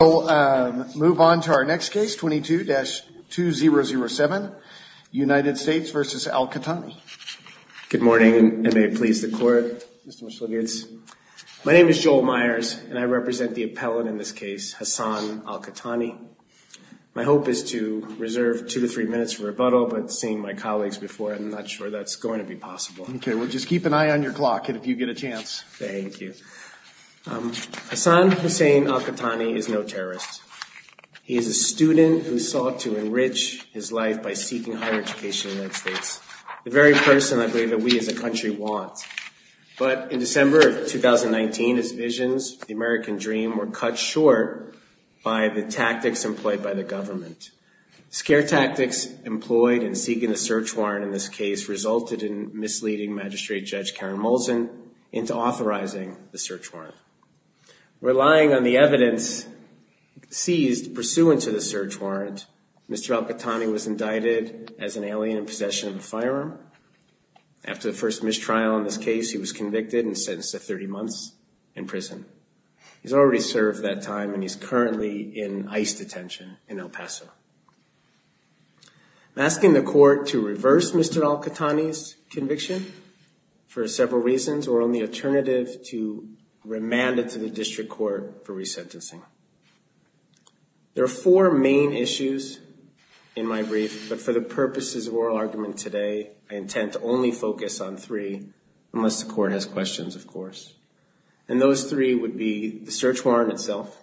We'll move on to our next case, 22-2007, United States v. Alqahtani. Good morning, and may it please the court, Mr. Michalowicz. My name is Joel Myers, and I represent the appellant in this case, Hassan Alqahtani. My hope is to reserve two to three minutes for rebuttal, but seeing my colleagues before, I'm not sure that's going to be possible. Okay, well, just keep an eye on your clock, and if you get a chance. Thank you. Hassan Hussein Alqahtani is no terrorist. He is a student who sought to enrich his life by seeking higher education in the United States, the very person I believe that we as a country want. But in December of 2019, his visions, the American dream, were cut short by the tactics employed by the government. Scare tactics employed in seeking the search warrant in this case resulted in misleading Magistrate Judge Karen Molson into authorizing the search warrant. Relying on the evidence seized pursuant to the search warrant, Mr. Alqahtani was indicted as an alien in possession of a firearm. After the first mistrial in this case, he was convicted and sentenced to 30 months in prison. He's already served that time, and he's currently in ICE detention in El Paso. I'm asking the court to reverse Mr. Alqahtani's conviction for several reasons or on the alternative to remand it to the district court for resentencing. There are four main issues in my brief, but for the purposes of oral argument today, I intend to only focus on three, unless the court has questions, of course. And those three would be the search warrant itself,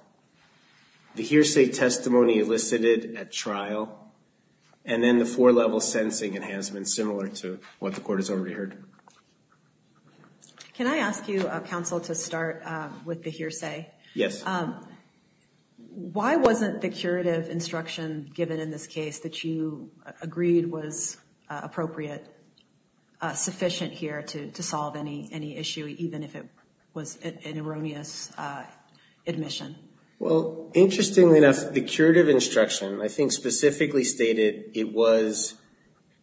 the hearsay testimony elicited at trial, and then the four-level sentencing enhancement similar to what the court has already heard. Can I ask you, counsel, to start with the hearsay? Yes. Why wasn't the curative instruction given in this case that you agreed was appropriate sufficient here to solve any issue, even if it was an erroneous admission? Well, interestingly enough, the curative instruction I think specifically stated it was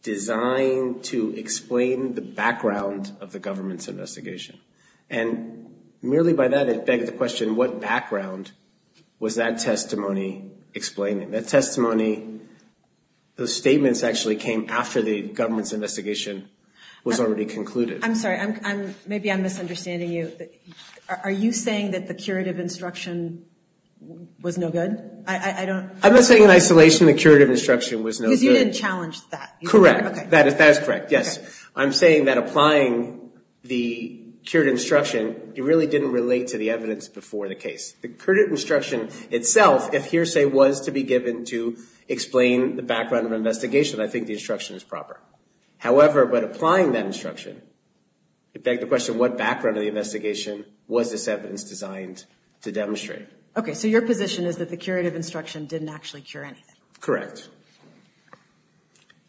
designed to explain the background of the government's investigation. And merely by that, it begs the question, what background was that testimony explaining? That testimony, those statements actually came after the government's investigation was already concluded. I'm sorry. Maybe I'm misunderstanding you. Are you saying that the curative instruction was no good? I'm not saying in isolation the curative instruction was no good. Because you didn't challenge that. Correct. That is correct, yes. I'm saying that applying the curative instruction, it really didn't relate to the evidence before the case. The curative instruction itself, if hearsay was to be given to explain the background of an investigation, I think the instruction is proper. However, by applying that instruction, it begs the question, what background of the investigation was this evidence designed to demonstrate? Okay, so your position is that the curative instruction didn't actually cure anything? Correct.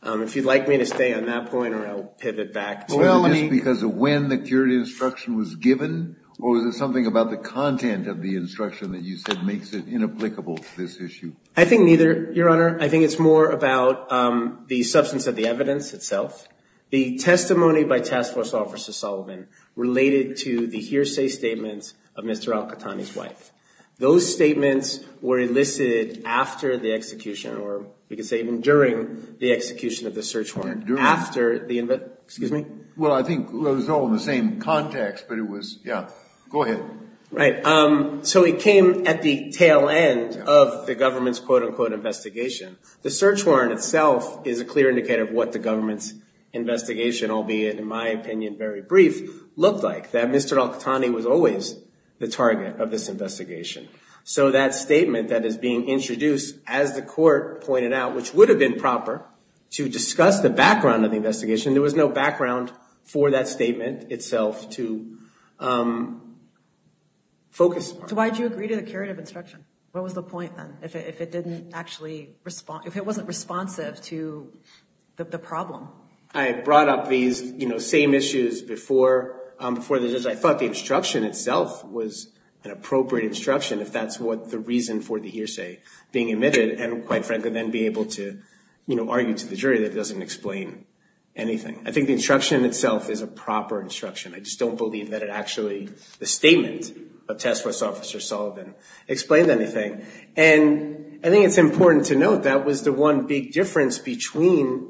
If you'd like me to stay on that point, or I'll pivot back. Well, just because of when the curative instruction was given, or was it something about the content of the instruction that you said makes it inapplicable to this issue? I think neither, Your Honor. I think it's more about the substance of the evidence itself. The testimony by Task Force Officer Sullivan related to the hearsay statements of Mr. Al-Qahtani's wife. Those statements were elicited after the execution, or we could say even during the execution of the search warrant. During? After the investigation. Well, I think it was all in the same context, but it was, yeah. Go ahead. Right. So it came at the tail end of the government's quote, unquote, investigation. The search warrant itself is a clear indicator of what the government's investigation, albeit in my opinion very brief, looked like. That Mr. Al-Qahtani was always the target of this investigation. So that statement that is being introduced, as the court pointed out, which would have been proper to discuss the background of the investigation. There was no background for that statement itself to focus on. So why did you agree to the curative instruction? What was the point then, if it didn't actually respond, if it wasn't responsive to the problem? I brought up these, you know, same issues before. I thought the instruction itself was an appropriate instruction, if that's what the reason for the hearsay being emitted. And quite frankly, then be able to, you know, argue to the jury that doesn't explain anything. I think the instruction itself is a proper instruction. I just don't believe that it actually, the statement of Tess West Officer Sullivan, explained anything. And I think it's important to note that was the one big difference between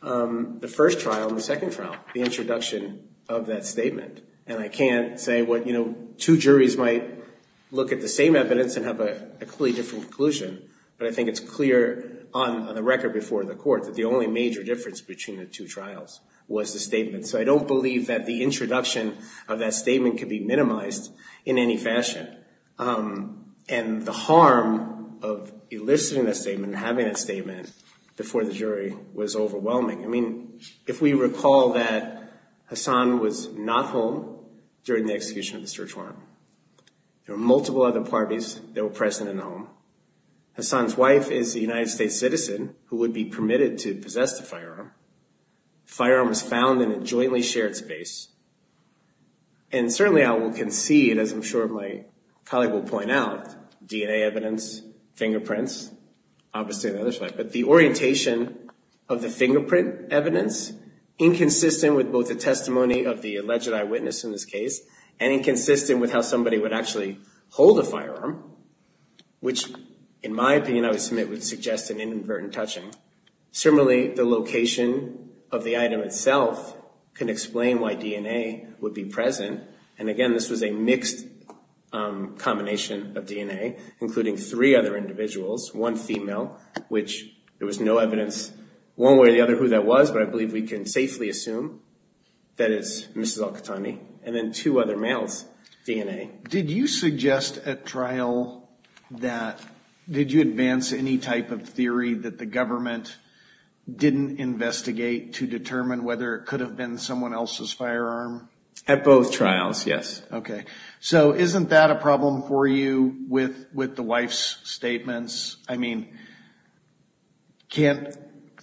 the first trial and the second trial, the introduction of that statement. And I can't say what, you know, two juries might look at the same evidence and have a completely different conclusion. But I think it's clear on the record before the court that the only major difference between the two trials was the statement. So I don't believe that the introduction of that statement could be minimized in any fashion. And the harm of eliciting that statement and having that statement before the jury was overwhelming. I mean, if we recall that Hassan was not home during the execution of the search warrant. There were multiple other parties that were present at home. Hassan's wife is a United States citizen who would be permitted to possess the firearm. The firearm was found in a jointly shared space. And certainly I will concede, as I'm sure my colleague will point out, DNA evidence, fingerprints, obviously on the other side. But the orientation of the fingerprint evidence, inconsistent with both the testimony of the alleged eyewitness in this case, and inconsistent with how somebody would actually hold a firearm, which in my opinion I would submit would suggest an inadvertent touching. Similarly, the location of the item itself can explain why DNA would be present. And again, this was a mixed combination of DNA, including three other individuals. One female, which there was no evidence one way or the other who that was, but I believe we can safely assume that it's Mrs. Al-Qahtani. Okay, did you suggest at trial that, did you advance any type of theory that the government didn't investigate to determine whether it could have been someone else's firearm? At both trials, yes. Okay, so isn't that a problem for you with the wife's statements? I mean, can't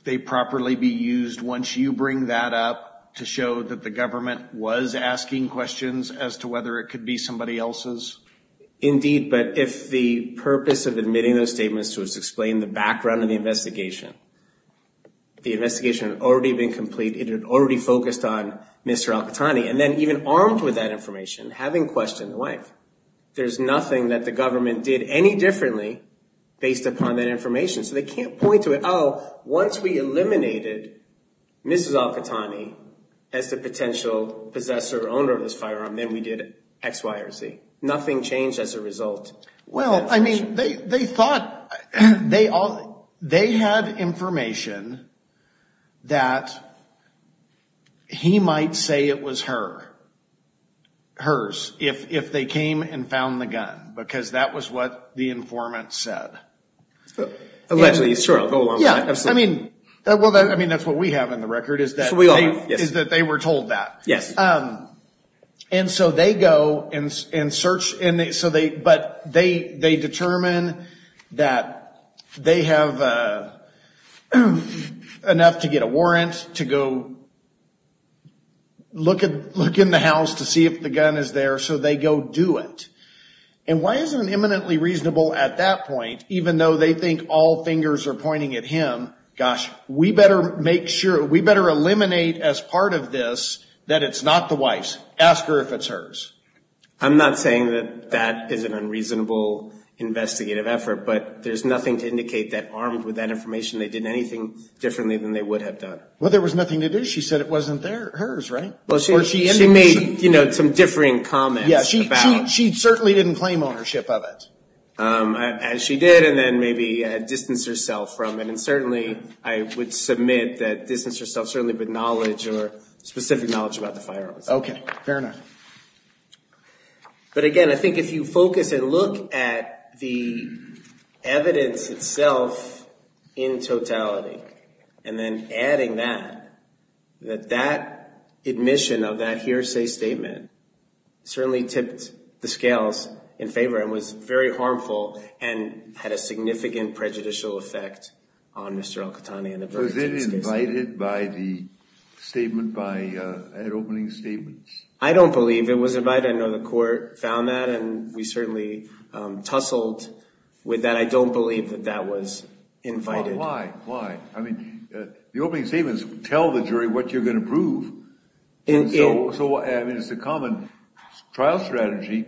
they properly be used once you bring that up to show that the government was asking questions as to whether it could be somebody else's? Indeed, but if the purpose of admitting those statements was to explain the background of the investigation, the investigation had already been complete, it had already focused on Mr. Al-Qahtani, and then even armed with that information, having questioned the wife. There's nothing that the government did any differently based upon that information. So they can't point to it, oh, once we eliminated Mrs. Al-Qahtani as the potential possessor or owner of this firearm, then we did X, Y, or Z. Well, I mean, they thought, they had information that he might say it was hers if they came and found the gun, because that was what the informant said. Allegedly, sure. Yeah, I mean, that's what we have in the record, is that they were told that. Yes. And so they go and search, but they determine that they have enough to get a warrant to go look in the house to see if the gun is there, so they go do it. And why isn't it eminently reasonable at that point, even though they think all fingers are pointing at him, gosh, we better make sure, we better eliminate as part of this that it's not the wife's. Ask her if it's hers. I'm not saying that that is an unreasonable investigative effort, but there's nothing to indicate that armed with that information they did anything differently than they would have done. Well, there was nothing to do. She said it wasn't hers, right? Well, she made some differing comments. Yeah, she certainly didn't claim ownership of it. As she did, and then maybe distanced herself from it. And certainly I would submit that distance herself certainly with knowledge or specific knowledge about the firearms. Okay, fair enough. But again, I think if you focus and look at the evidence itself in totality, and then adding that, that that admission of that hearsay statement certainly tipped the scales in favor and was very harmful and had a significant prejudicial effect on Mr. Al-Qahtani. Was it invited by the statement, by opening statements? I don't believe it was invited. I know the court found that, and we certainly tussled with that. I don't believe that that was invited. Why? Why? I mean, the opening statements tell the jury what you're going to prove. I mean, it's a common trial strategy,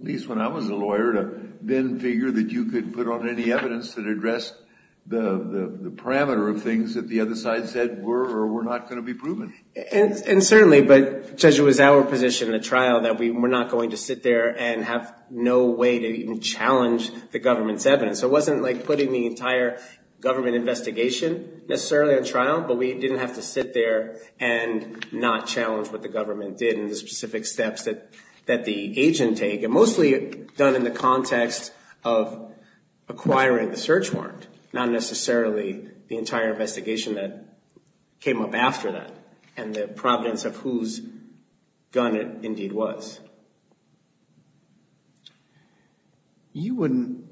at least when I was a lawyer, to then figure that you could put on any evidence that addressed the parameter of things that the other side said were or were not going to be proven. And certainly, but Judge, it was our position in the trial that we were not going to sit there and have no way to even challenge the government's evidence. So it wasn't like putting the entire government investigation necessarily on trial, but we didn't have to sit there and not challenge what the government did and the specific steps that the agent take, and mostly done in the context of acquiring the search warrant, not necessarily the entire investigation that came up after that and the providence of whose gun it indeed was.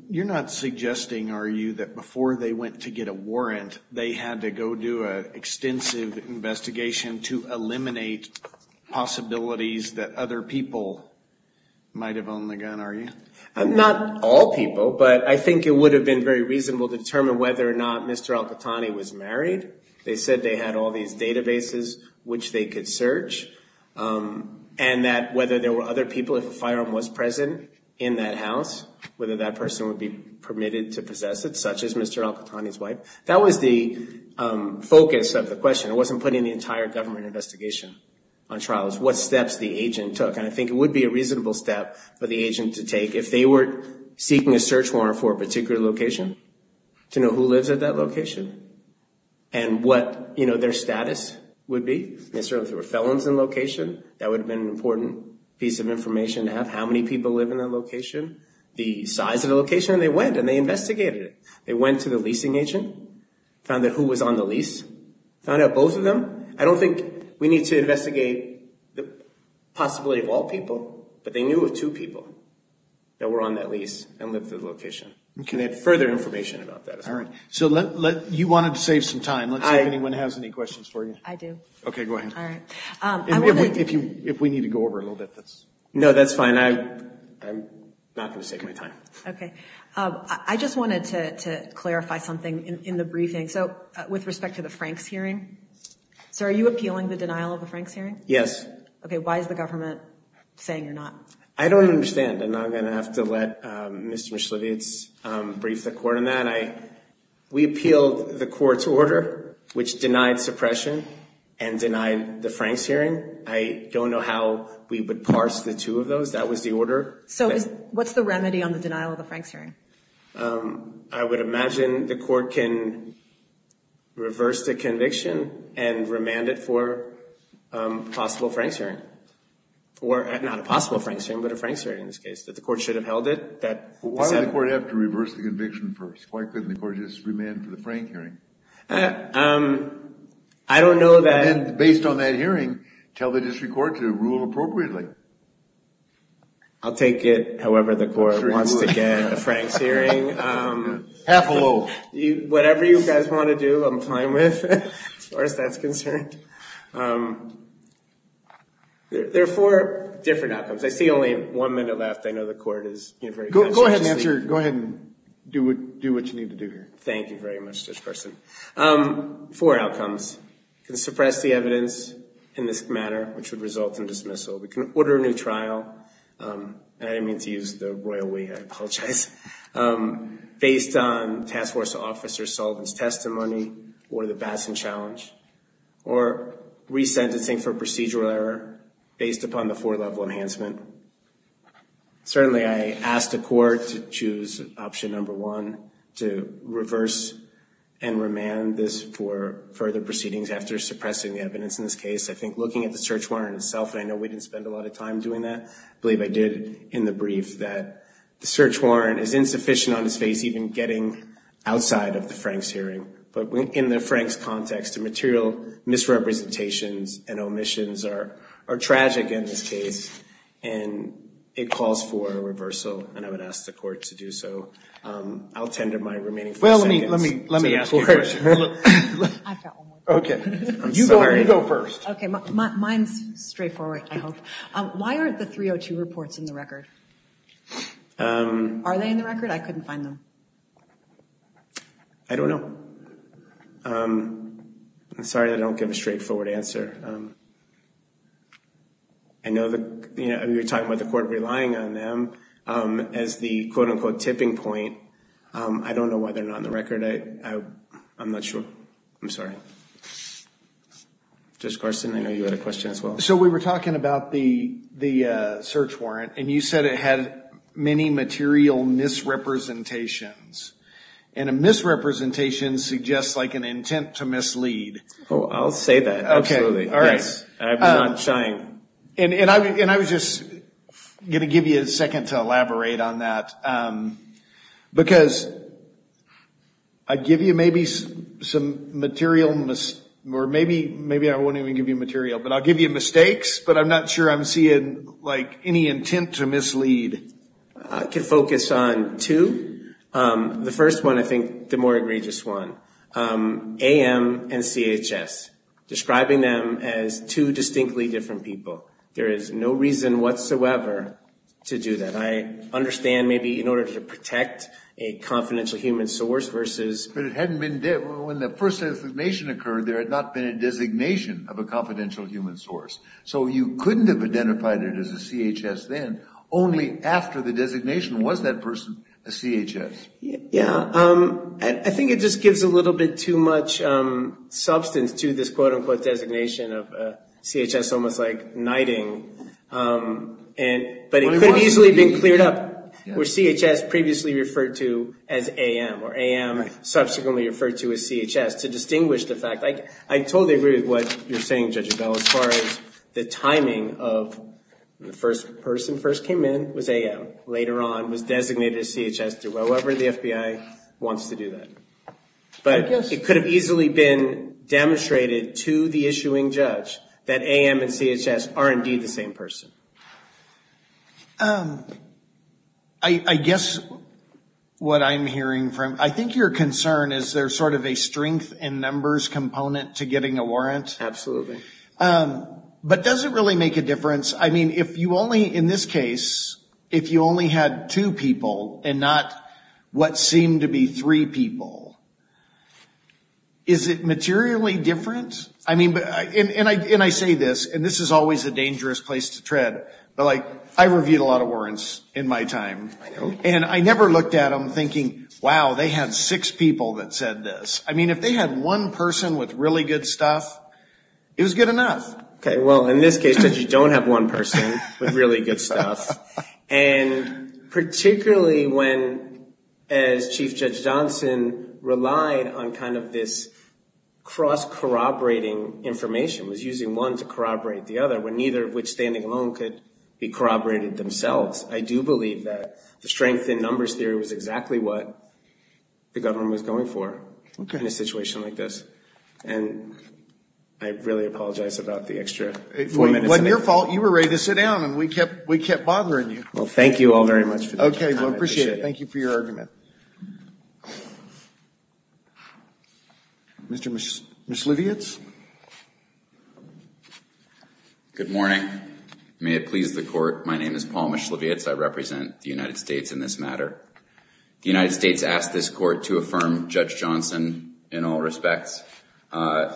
You're not suggesting, are you, that before they went to get a warrant, they had to go do an extensive investigation to eliminate possibilities that other people might have owned the gun, are you? Not all people, but I think it would have been very reasonable to determine whether or not Mr. Al-Qahtani was married. They said they had all these databases which they could search, and that whether there were other people, if a firearm was present in that house, whether that person would be permitted to possess it, such as Mr. Al-Qahtani's wife. That was the focus of the question. It wasn't putting the entire government investigation on trial. And I think it would be a reasonable step for the agent to take if they were seeking a search warrant for a particular location, to know who lives at that location and what their status would be. If there were felons in location, that would have been an important piece of information to have, how many people live in that location, the size of the location, and they went and they investigated it. They went to the leasing agent, found out who was on the lease, found out both of them. I don't think we need to investigate the possibility of all people, but they knew of two people that were on that lease and lived at the location. And they had further information about that as well. All right. So you wanted to save some time. Let's see if anyone has any questions for you. I do. Okay, go ahead. All right. If we need to go over a little bit, that's... No, that's fine. I'm not going to save my time. Okay. I just wanted to clarify something in the briefing. So with respect to the Franks hearing, sir, are you appealing the denial of the Franks hearing? Yes. Okay. Why is the government saying you're not? I don't understand, and I'm going to have to let Mr. Mishlevitz brief the court on that. We appealed the court's order, which denied suppression and denied the Franks hearing. I don't know how we would parse the two of those. That was the order. So what's the remedy on the denial of the Franks hearing? I would imagine the court can reverse the conviction and remand it for a possible Franks hearing. Or not a possible Franks hearing, but a Franks hearing in this case. That the court should have held it. Why would the court have to reverse the conviction first? Why couldn't the court just remand for the Frank hearing? I don't know that... And then, based on that hearing, tell the district court to rule appropriately. I'll take it, however the court wants to get a Franks hearing. Half a loaf. Whatever you guys want to do, I'm fine with, as far as that's concerned. There are four different outcomes. I see only one minute left. I know the court is very conscientious. Go ahead and answer. Go ahead and do what you need to do here. Thank you very much, Judge Carson. Four outcomes. We can suppress the evidence in this matter, which would result in dismissal. We can order a new trial. I didn't mean to use the royal way. I apologize. Based on task force officer's solvence testimony. Order the Batson Challenge. Or resentencing for procedural error based upon the four-level enhancement. Certainly, I ask the court to choose option number one. To reverse and remand this for further proceedings after suppressing the evidence in this case. I think looking at the search warrant itself, and I know we didn't spend a lot of time doing that. I believe I did in the brief that the search warrant is insufficient on its face even getting outside of the Franks hearing. But in the Franks context, the material misrepresentations and omissions are tragic in this case. And it calls for a reversal. And I would ask the court to do so. I'll tend to my remaining four seconds. Well, let me ask you a question. I've got one more. Okay. You go first. Okay. Mine's straightforward, I hope. Why aren't the 302 reports in the record? Are they in the record? I couldn't find them. I don't know. I'm sorry I don't give a straightforward answer. I know you're talking about the court relying on them as the quote-unquote tipping point. I don't know why they're not in the record. I'm not sure. I'm sorry. Judge Carson, I know you had a question as well. So we were talking about the search warrant, and you said it had many material misrepresentations. And a misrepresentation suggests like an intent to mislead. Oh, I'll say that, absolutely. I'm not trying. And I was just going to give you a second to elaborate on that. Because I'd give you maybe some material, or maybe I won't even give you material, but I'll give you mistakes, but I'm not sure I'm seeing like any intent to mislead. I can focus on two. The first one, I think, the more egregious one, AM and CHS, describing them as two distinctly different people. There is no reason whatsoever to do that. I understand maybe in order to protect a confidential human source versus – But it hadn't been – when the first designation occurred, there had not been a designation of a confidential human source. So you couldn't have identified it as a CHS then. Only after the designation was that person a CHS. Yeah. I think it just gives a little bit too much substance to this quote-unquote designation of CHS, almost like knighting. But it could have easily been cleared up, where CHS previously referred to as AM, or AM subsequently referred to as CHS, to distinguish the fact – I totally agree with what you're saying, Judge Abell, as far as the timing of when the first person first came in was AM, later on was designated as CHS through whoever the FBI wants to do that. But it could have easily been demonstrated to the issuing judge that AM and CHS are indeed the same person. I guess what I'm hearing from – I think your concern is there's sort of a strength in numbers component to getting a warrant. Absolutely. In this case, if you only had two people and not what seemed to be three people, is it materially different? And I say this, and this is always a dangerous place to tread, but I reviewed a lot of warrants in my time. I know. And I never looked at them thinking, wow, they had six people that said this. I mean, if they had one person with really good stuff, it was good enough. Okay, well, in this case, Judge, you don't have one person with really good stuff. And particularly when, as Chief Judge Johnson relied on kind of this cross-corroborating information, was using one to corroborate the other, when neither of which standing alone could be corroborated themselves, I do believe that the strength in numbers theory was exactly what the government was going for in a situation like this. And I really apologize about the extra four minutes. It wasn't your fault. You were ready to sit down, and we kept bothering you. Well, thank you all very much for your time. I appreciate it. Okay, well, I appreciate it. Thank you for your argument. Mr. Mishlevietz? Good morning. May it please the Court, my name is Paul Mishlevietz. I represent the United States in this matter. The United States asked this Court to affirm Judge Johnson in all respects. Judge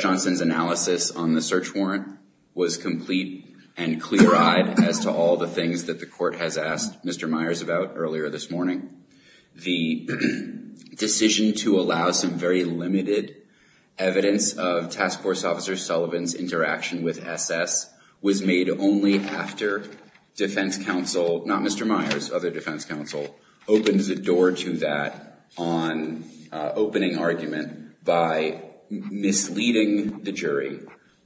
Johnson's analysis on the search warrant was complete and clear-eyed as to all the things that the Court has asked Mr. Myers about earlier this morning. The decision to allow some very limited evidence of Task Force Officer Sullivan's interaction with SS was made only after defense counsel, not Mr. Myers, other defense counsel, opened the door to that on opening argument by misleading the jury,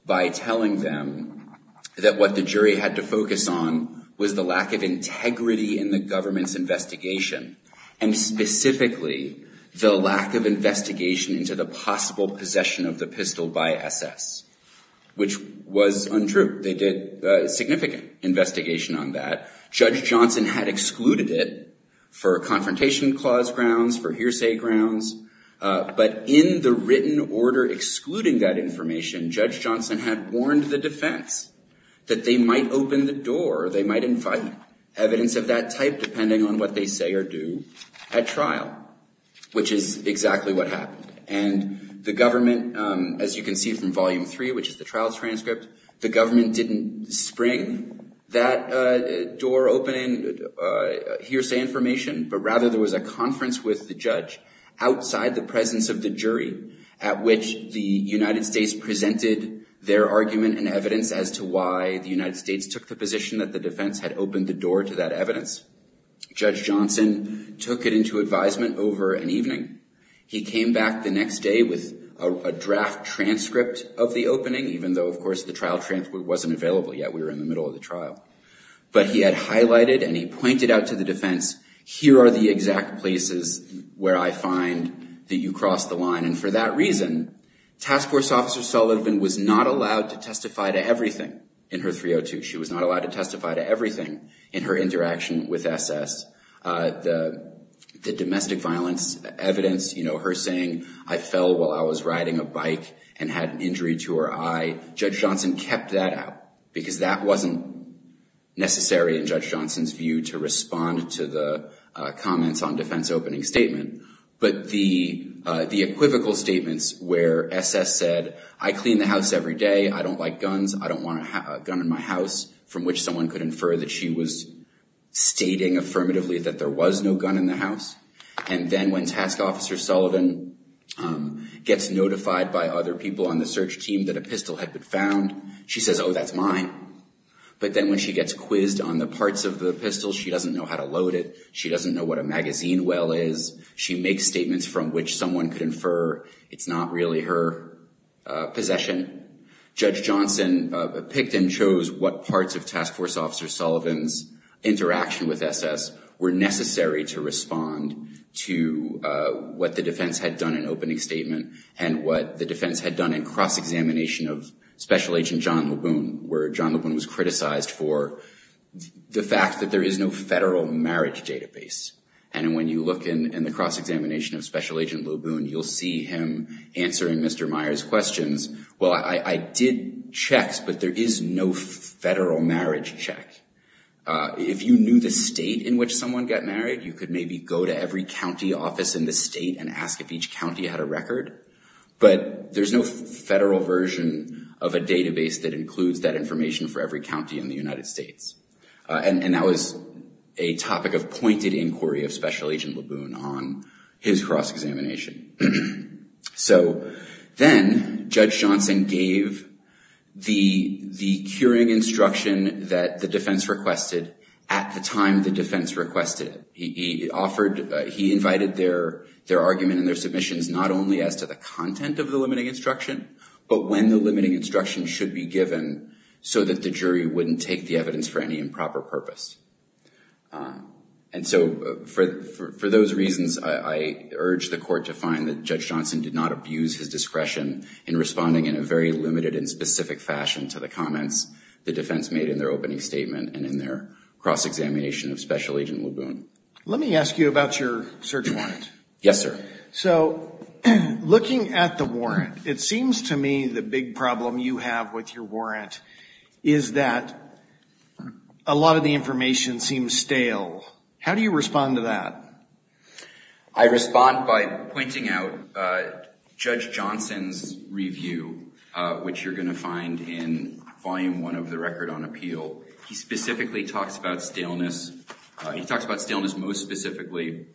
by telling them that what the jury had to focus on was the lack of integrity in the government's investigation, and specifically the lack of investigation into the possible possession of the pistol by SS, which was untrue. They did significant investigation on that. Judge Johnson had excluded it for confrontation clause grounds, for hearsay grounds, but in the written order excluding that information, Judge Johnson had warned the defense that they might open the door, they might invite evidence of that type depending on what they say or do at trial, which is exactly what happened. And the government, as you can see from Volume 3, which is the trial's transcript, the government didn't spring that door open. Hearsay information, but rather there was a conference with the judge outside the presence of the jury at which the United States presented their argument and evidence as to why the United States took the position that the defense had opened the door to that evidence. Judge Johnson took it into advisement over an evening. He came back the next day with a draft transcript of the opening, even though, of course, the trial transcript wasn't available yet. We were in the middle of the trial, but he had highlighted and he pointed out to the defense, here are the exact places where I find that you crossed the line. And for that reason, Task Force Officer Sullivan was not allowed to testify to everything in her 302. She was not allowed to testify to everything in her interaction with SS. The domestic violence evidence, her saying, I fell while I was riding a bike and had an injury to her eye. Judge Johnson kept that out because that wasn't necessary in Judge Johnson's view to respond to the comments on defense opening statement. But the equivocal statements where SS said, I clean the house every day, I don't like guns, I don't want a gun in my house, from which someone could infer that she was stating affirmatively that there was no gun in the house. And then when Task Officer Sullivan gets notified by other people on the search team that a pistol had been found, she says, oh, that's mine. But then when she gets quizzed on the parts of the pistol, she doesn't know how to load it. She doesn't know what a magazine well is. She makes statements from which someone could infer it's not really her possession. Judge Johnson picked and chose what parts of Task Force Officer Sullivan's interaction with SS were necessary to respond to what the defense had done in opening statement and what the defense had done in cross-examination of Special Agent John Laboon, where John Laboon was criticized for the fact that there is no federal marriage database. And when you look in the cross-examination of Special Agent Laboon, you'll see him answering Mr. Meyer's questions. Well, I did checks, but there is no federal marriage check. If you knew the state in which someone got married, you could maybe go to every county office in the state and ask if each county had a record. But there's no federal version of a database that includes that information for every county in the United States. And that was a topic of pointed inquiry of Special Agent Laboon on his cross-examination. So then Judge Johnson gave the curing instruction that the defense requested at the time the defense requested it. He invited their argument and their submissions not only as to the content of the limiting instruction, but when the limiting instruction should be given so that the jury wouldn't take the evidence for any improper purpose. And so for those reasons, I urge the court to find that Judge Johnson did not abuse his discretion in responding in a very limited and specific fashion to the comments the defense made in their opening statement and in their cross-examination of Special Agent Laboon. Let me ask you about your search warrant. Yes, sir. So looking at the warrant, it seems to me the big problem you have with your warrant is that a lot of the information seems stale. How do you respond to that? I respond by pointing out Judge Johnson's review, which you're going to find in Volume 1 of the Record on Appeal. He specifically talks about staleness. He talks about staleness most specifically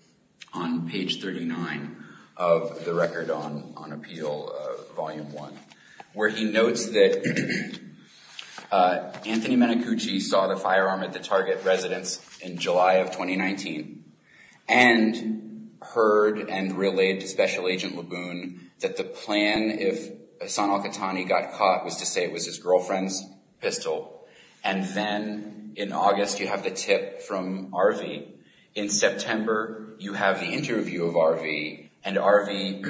on page 39 of the Record on Appeal, Volume 1, where he notes that Anthony Menacucci saw the firearm at the target residence in July of 2019 and heard and relayed to Special Agent Laboon that the plan if Hassan al-Qahtani got caught was to say it was his girlfriend's pistol, and then in August, you have the tip from Arvey. In September, you have the interview of Arvey, and Arvey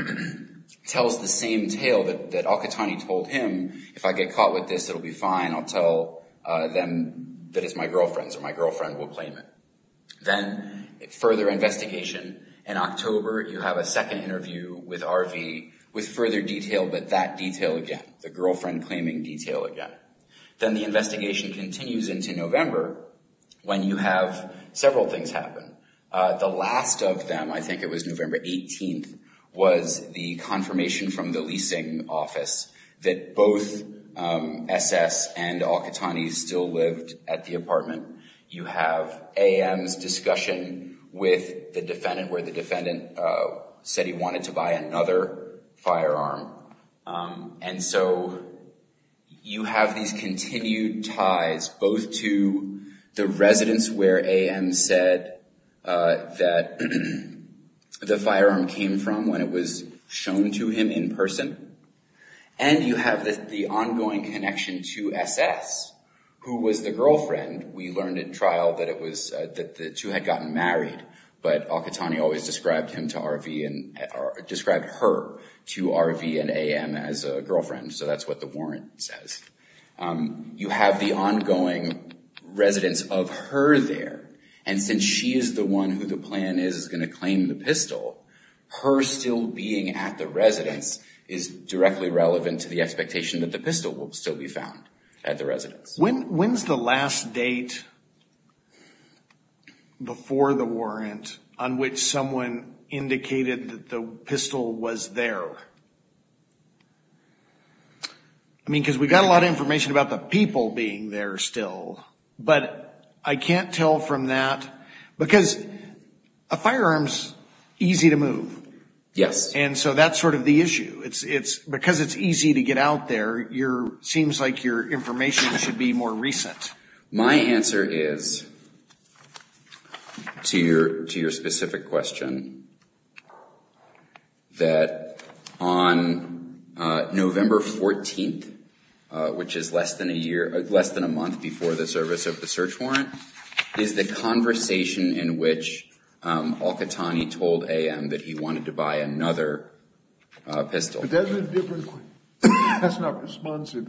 tells the same tale that al-Qahtani told him. If I get caught with this, it'll be fine. I'll tell them that it's my girlfriend's or my girlfriend will claim it. Then further investigation in October, you have a second interview with Arvey with further detail, but that detail again, the girlfriend claiming detail again. Then the investigation continues into November when you have several things happen. The last of them, I think it was November 18th, was the confirmation from the leasing office that both SS and al-Qahtani still lived at the apartment. You have AM's discussion with the defendant where the defendant said he wanted to buy another firearm, and so you have these continued ties both to the residence where AM said that the firearm came from when it was shown to him in person, and you have the ongoing connection to SS who was the girlfriend. We learned in trial that the two had gotten married, but al-Qahtani always described her to Arvey and AM as a girlfriend, so that's what the warrant says. You have the ongoing residence of her there, and since she is the one who the plan is going to claim the pistol, her still being at the residence is directly relevant to the expectation that the pistol will still be found at the residence. When's the last date before the warrant on which someone indicated that the pistol was there? I mean, because we got a lot of information about the people being there still, but I can't tell from that, because a firearm's easy to move, and so that's sort of the issue. Because it's easy to get out there, it seems like your information should be more recent. My answer is, to your specific question, that on November 14th, which is less than a month before the service of the search warrant, is the conversation in which al-Qahtani told AM that he wanted to buy another pistol. But that's a different question. That's not responsive.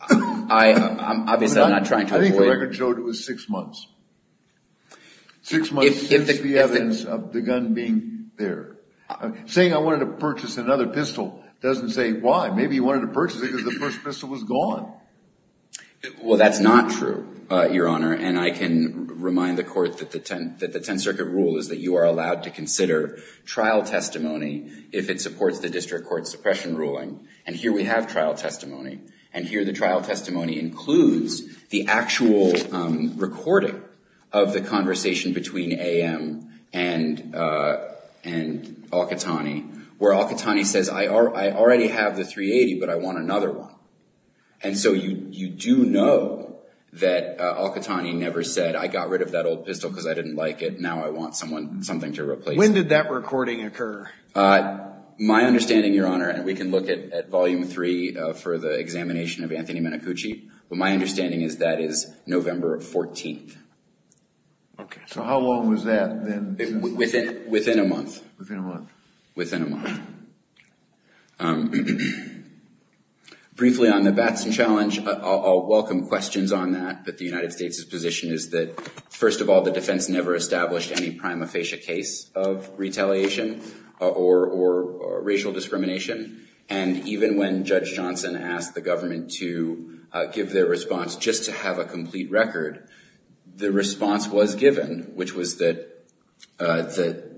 I think the record showed it was six months. Six months since the evidence of the gun being there. Saying I wanted to purchase another pistol doesn't say why. Maybe he wanted to purchase it because the first pistol was gone. Well, that's not true, Your Honor, and I can remind the Court that the Tenth Circuit rule is that you are allowed to consider trial testimony if it supports the district court suppression ruling, and here we have trial testimony. And here the trial testimony includes the actual recording of the conversation between AM and al-Qahtani, where al-Qahtani says, I already have the .380, but I want another one. And so you do know that al-Qahtani never said, I got rid of that old pistol because I didn't like it. Now I want something to replace it. When did that recording occur? My understanding, Your Honor, and we can look at Volume 3 for the examination of Anthony Menacucci, but my understanding is that is November 14th. So how long was that then? Within a month. Briefly on the Batson Challenge, I'll welcome questions on that, but the United States' position is that, first of all, the defense never established any prima facie case of retaliation or racial discrimination, and even when Judge Johnson asked the government to give their response just to have a complete record, the response was given, which was that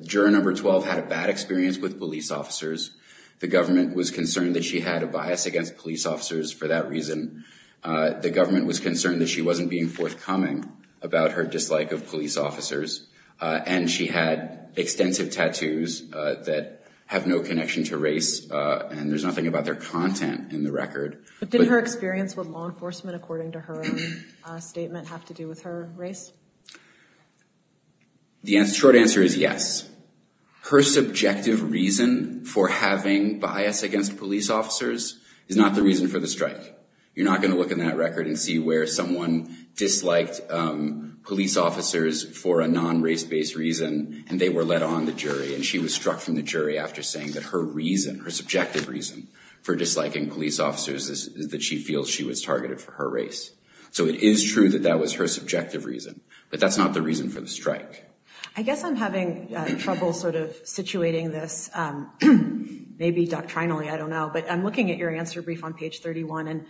Juror Number 12 had a bad experience with police officers. The government was concerned that she had a bias against police officers for that reason. The government was concerned that she wasn't being forthcoming about her dislike of police officers, and she had extensive tattoos that have no connection to race, and there's nothing about their content in the record. But did her experience with law enforcement, according to her own statement, have to do with her race? The short answer is yes. Her subjective reason for having bias against police officers is not the reason for the strike. You're not going to look in that record and see where someone disliked police officers for a non-race-based reason, and they were let on the jury, and she was struck from the jury after saying that her reason, her subjective reason for disliking police officers is that she feels she was targeted for her race. So it is true that that was her subjective reason, but that's not the reason for the strike. I guess I'm having trouble sort of situating this. Maybe doctrinally, I don't know. But I'm looking at your answer brief on page 31,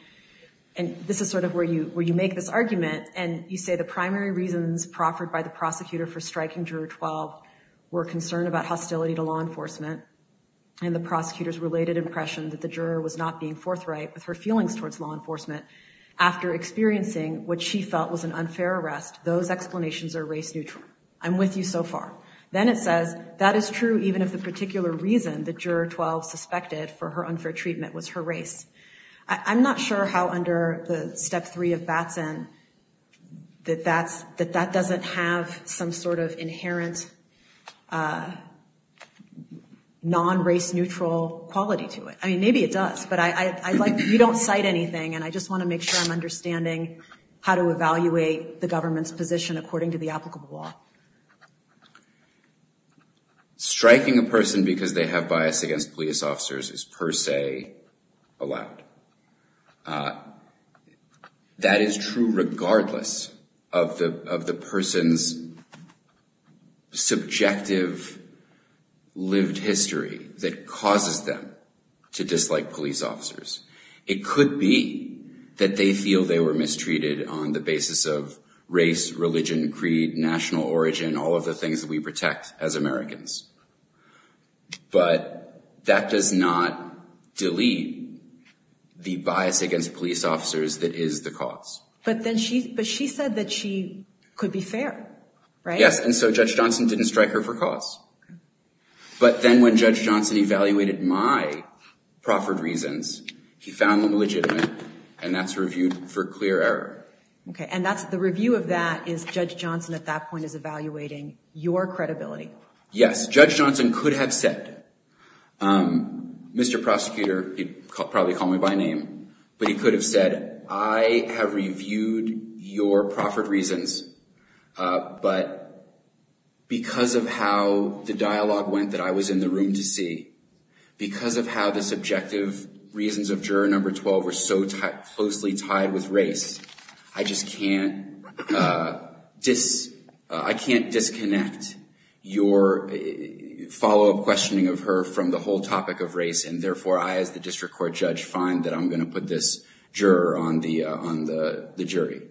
and this is sort of where you make this argument, and you say the primary reasons proffered by the prosecutor for striking Juror 12 were concern about hostility to law enforcement, and the prosecutor's related impression that the juror was not being forthright with her feelings towards law enforcement. After experiencing what she felt was an unfair arrest, those explanations are race-neutral. I'm with you so far. Then it says, that is true even if the particular reason that Juror 12 suspected for her unfair treatment was her race. I'm not sure how under the Step 3 of Batson that that doesn't have some sort of inherent non-race-neutral quality to it. I mean, maybe it does, but you don't cite anything, and I just want to make sure I'm understanding how to evaluate the government's position according to the applicable law. Striking a person because they have bias against police officers is per se allowed. That is true regardless of the person's subjective lived history, that causes them to dislike police officers. It could be that they feel they were mistreated on the basis of race, religion, creed, national origin, all of the things that we protect as Americans. But that does not delete the bias against police officers that is the cause. But she said that she could be fair, right? Yes, and so Judge Johnson didn't strike her for cause. But then when Judge Johnson evaluated my proffered reasons, he found them legitimate, and that's reviewed for clear error. And the review of that is Judge Johnson at that point is evaluating your credibility. Yes, Judge Johnson could have said, Mr. Prosecutor, he'd probably call me by name, but he could have said, I have reviewed your proffered reasons, but because of how the dialogue went that I was in the room to see, because of how the subjective reasons of juror number 12 were so closely tied with race, I just can't disconnect your follow-up questioning of her from the whole topic of race, and therefore I as the district court judge find that I'm going to put this juror on the jury.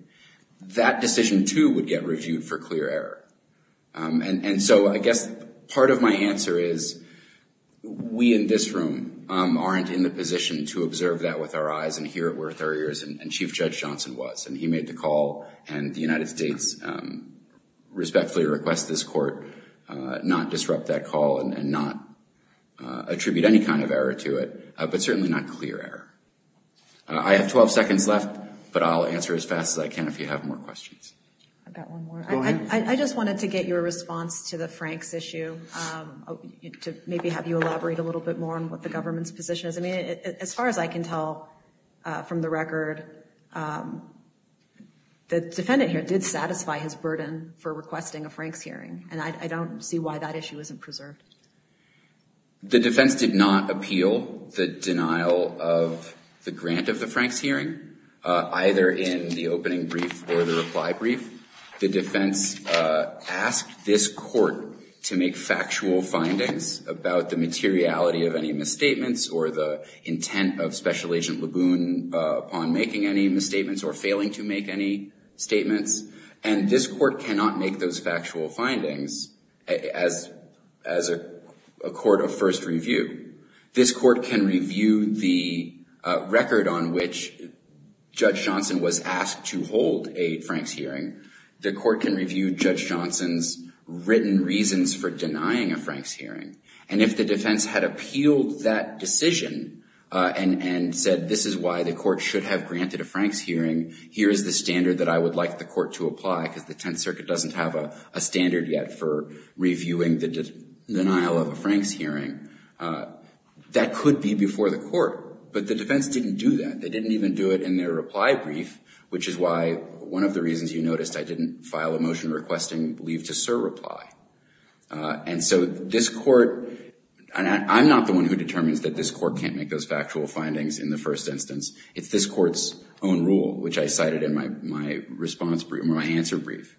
That decision, too, would get reviewed for clear error. And so I guess part of my answer is we in this room aren't in the position to observe that with our eyes and hear it with our ears, and Chief Judge Johnson was, and he made the call, and the United States respectfully requests this court not disrupt that call and not attribute any kind of error to it, but certainly not clear error. I have 12 seconds left, but I'll answer as fast as I can if you have more questions. I've got one more. I just wanted to get your response to the Franks issue, to maybe have you elaborate a little bit more on what the government's position is. As far as I can tell from the record, the defendant here did satisfy his burden for requesting a Franks hearing, and I don't see why that issue isn't preserved. The defense did not appeal the denial of the grant of the Franks hearing, either in the opening brief or the reply brief. The defense asked this court to make factual findings about the materiality of any misstatements or the intent of Special Agent Laboon upon making any misstatements or failing to make any statements, and this court cannot make those factual findings as a court of first review. This court can review the record on which Judge Johnson was asked to hold a Franks hearing. The court can review Judge Johnson's written reasons for denying a Franks hearing, and if the defense had appealed that decision and said, this is why the court should have granted a Franks hearing, here is the standard that I would like the court to apply, because the Tenth Circuit doesn't have a standard yet for reviewing the denial of a Franks hearing. That could be before the court, but the defense didn't do that. They didn't even do it in their reply brief, which is why one of the reasons you noticed I didn't file a motion requesting leave to sir reply. And so this court, and I'm not the one who determines that this court can't make those factual findings in the first instance. It's this court's own rule, which I cited in my response brief, my answer brief.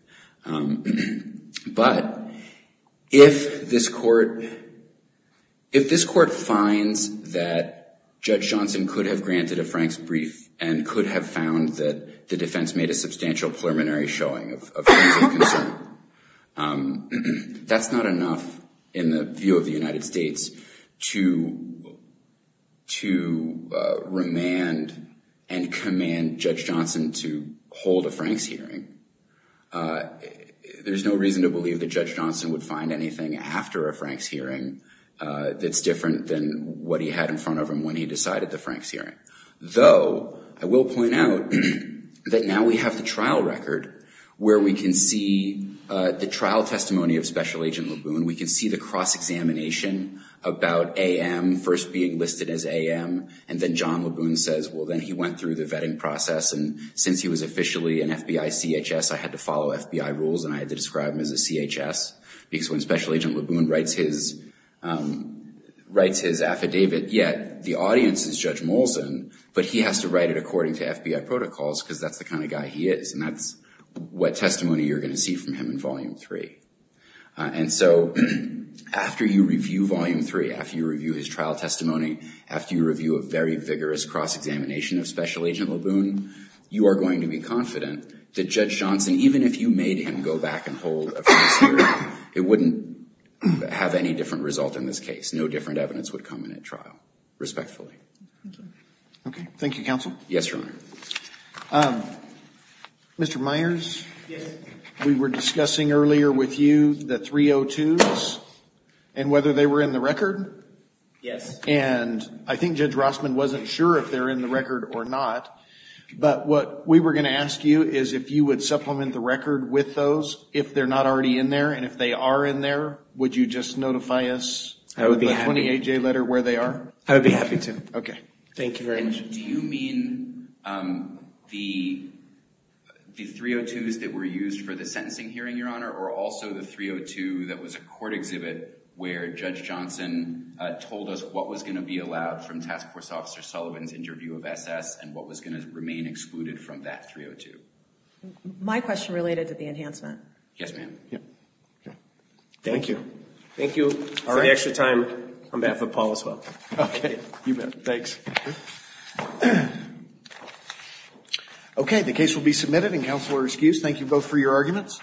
But if this court finds that Judge Johnson could have granted a Franks brief and could have found that the defense made a substantial preliminary showing of Franks concern, that's not enough in the view of the United States to remand and command Judge Johnson to hold a Franks hearing. There's no reason to believe that Judge Johnson would find anything after a Franks hearing that's different than what he had in front of him when he decided the Franks hearing. Though, I will point out that now we have the trial record where we can see the trial testimony of Special Agent Laboon. We can see the cross-examination about A.M. first being listed as A.M. And then John Laboon says, well, then he went through the vetting process. And since he was officially an FBI CHS, I had to follow FBI rules and I had to describe him as a CHS. Because when Special Agent Laboon writes his affidavit, yet the audience is Judge Molson, but he has to write it according to FBI protocols because that's the kind of guy he is. And that's what testimony you're going to see from him in Volume 3. And so after you review Volume 3, after you review his trial testimony, after you review a very vigorous cross-examination of Special Agent Laboon, you are going to be confident that Judge Johnson, even if you made him go back and hold a Franks hearing, it wouldn't have any different result in this case. No different evidence would come in at trial, respectfully. Okay. Thank you, Counsel. Yes, Your Honor. Mr. Myers? Yes. We were discussing earlier with you the 302s and whether they were in the record. Yes. And I think Judge Rossman wasn't sure if they were in the record or not. But what we were going to ask you is if you would supplement the record with those if they're not already in there. And if they are in there, would you just notify us with a 28-J letter where they are? I would be happy to. Okay. Thank you very much. And do you mean the 302s that were used for the sentencing hearing, Your Honor, or also the 302 that was a court exhibit where Judge Johnson told us what was going to be allowed from Task Force Officer Sullivan's interview of SS and what was going to remain excluded from that 302? My question related to the enhancement. Yes, ma'am. Thank you. Thank you for the extra time on behalf of Paul as well. Okay. You bet. Thanks. Okay. The case will be submitted. Counsel are excused. Thank you both for your arguments.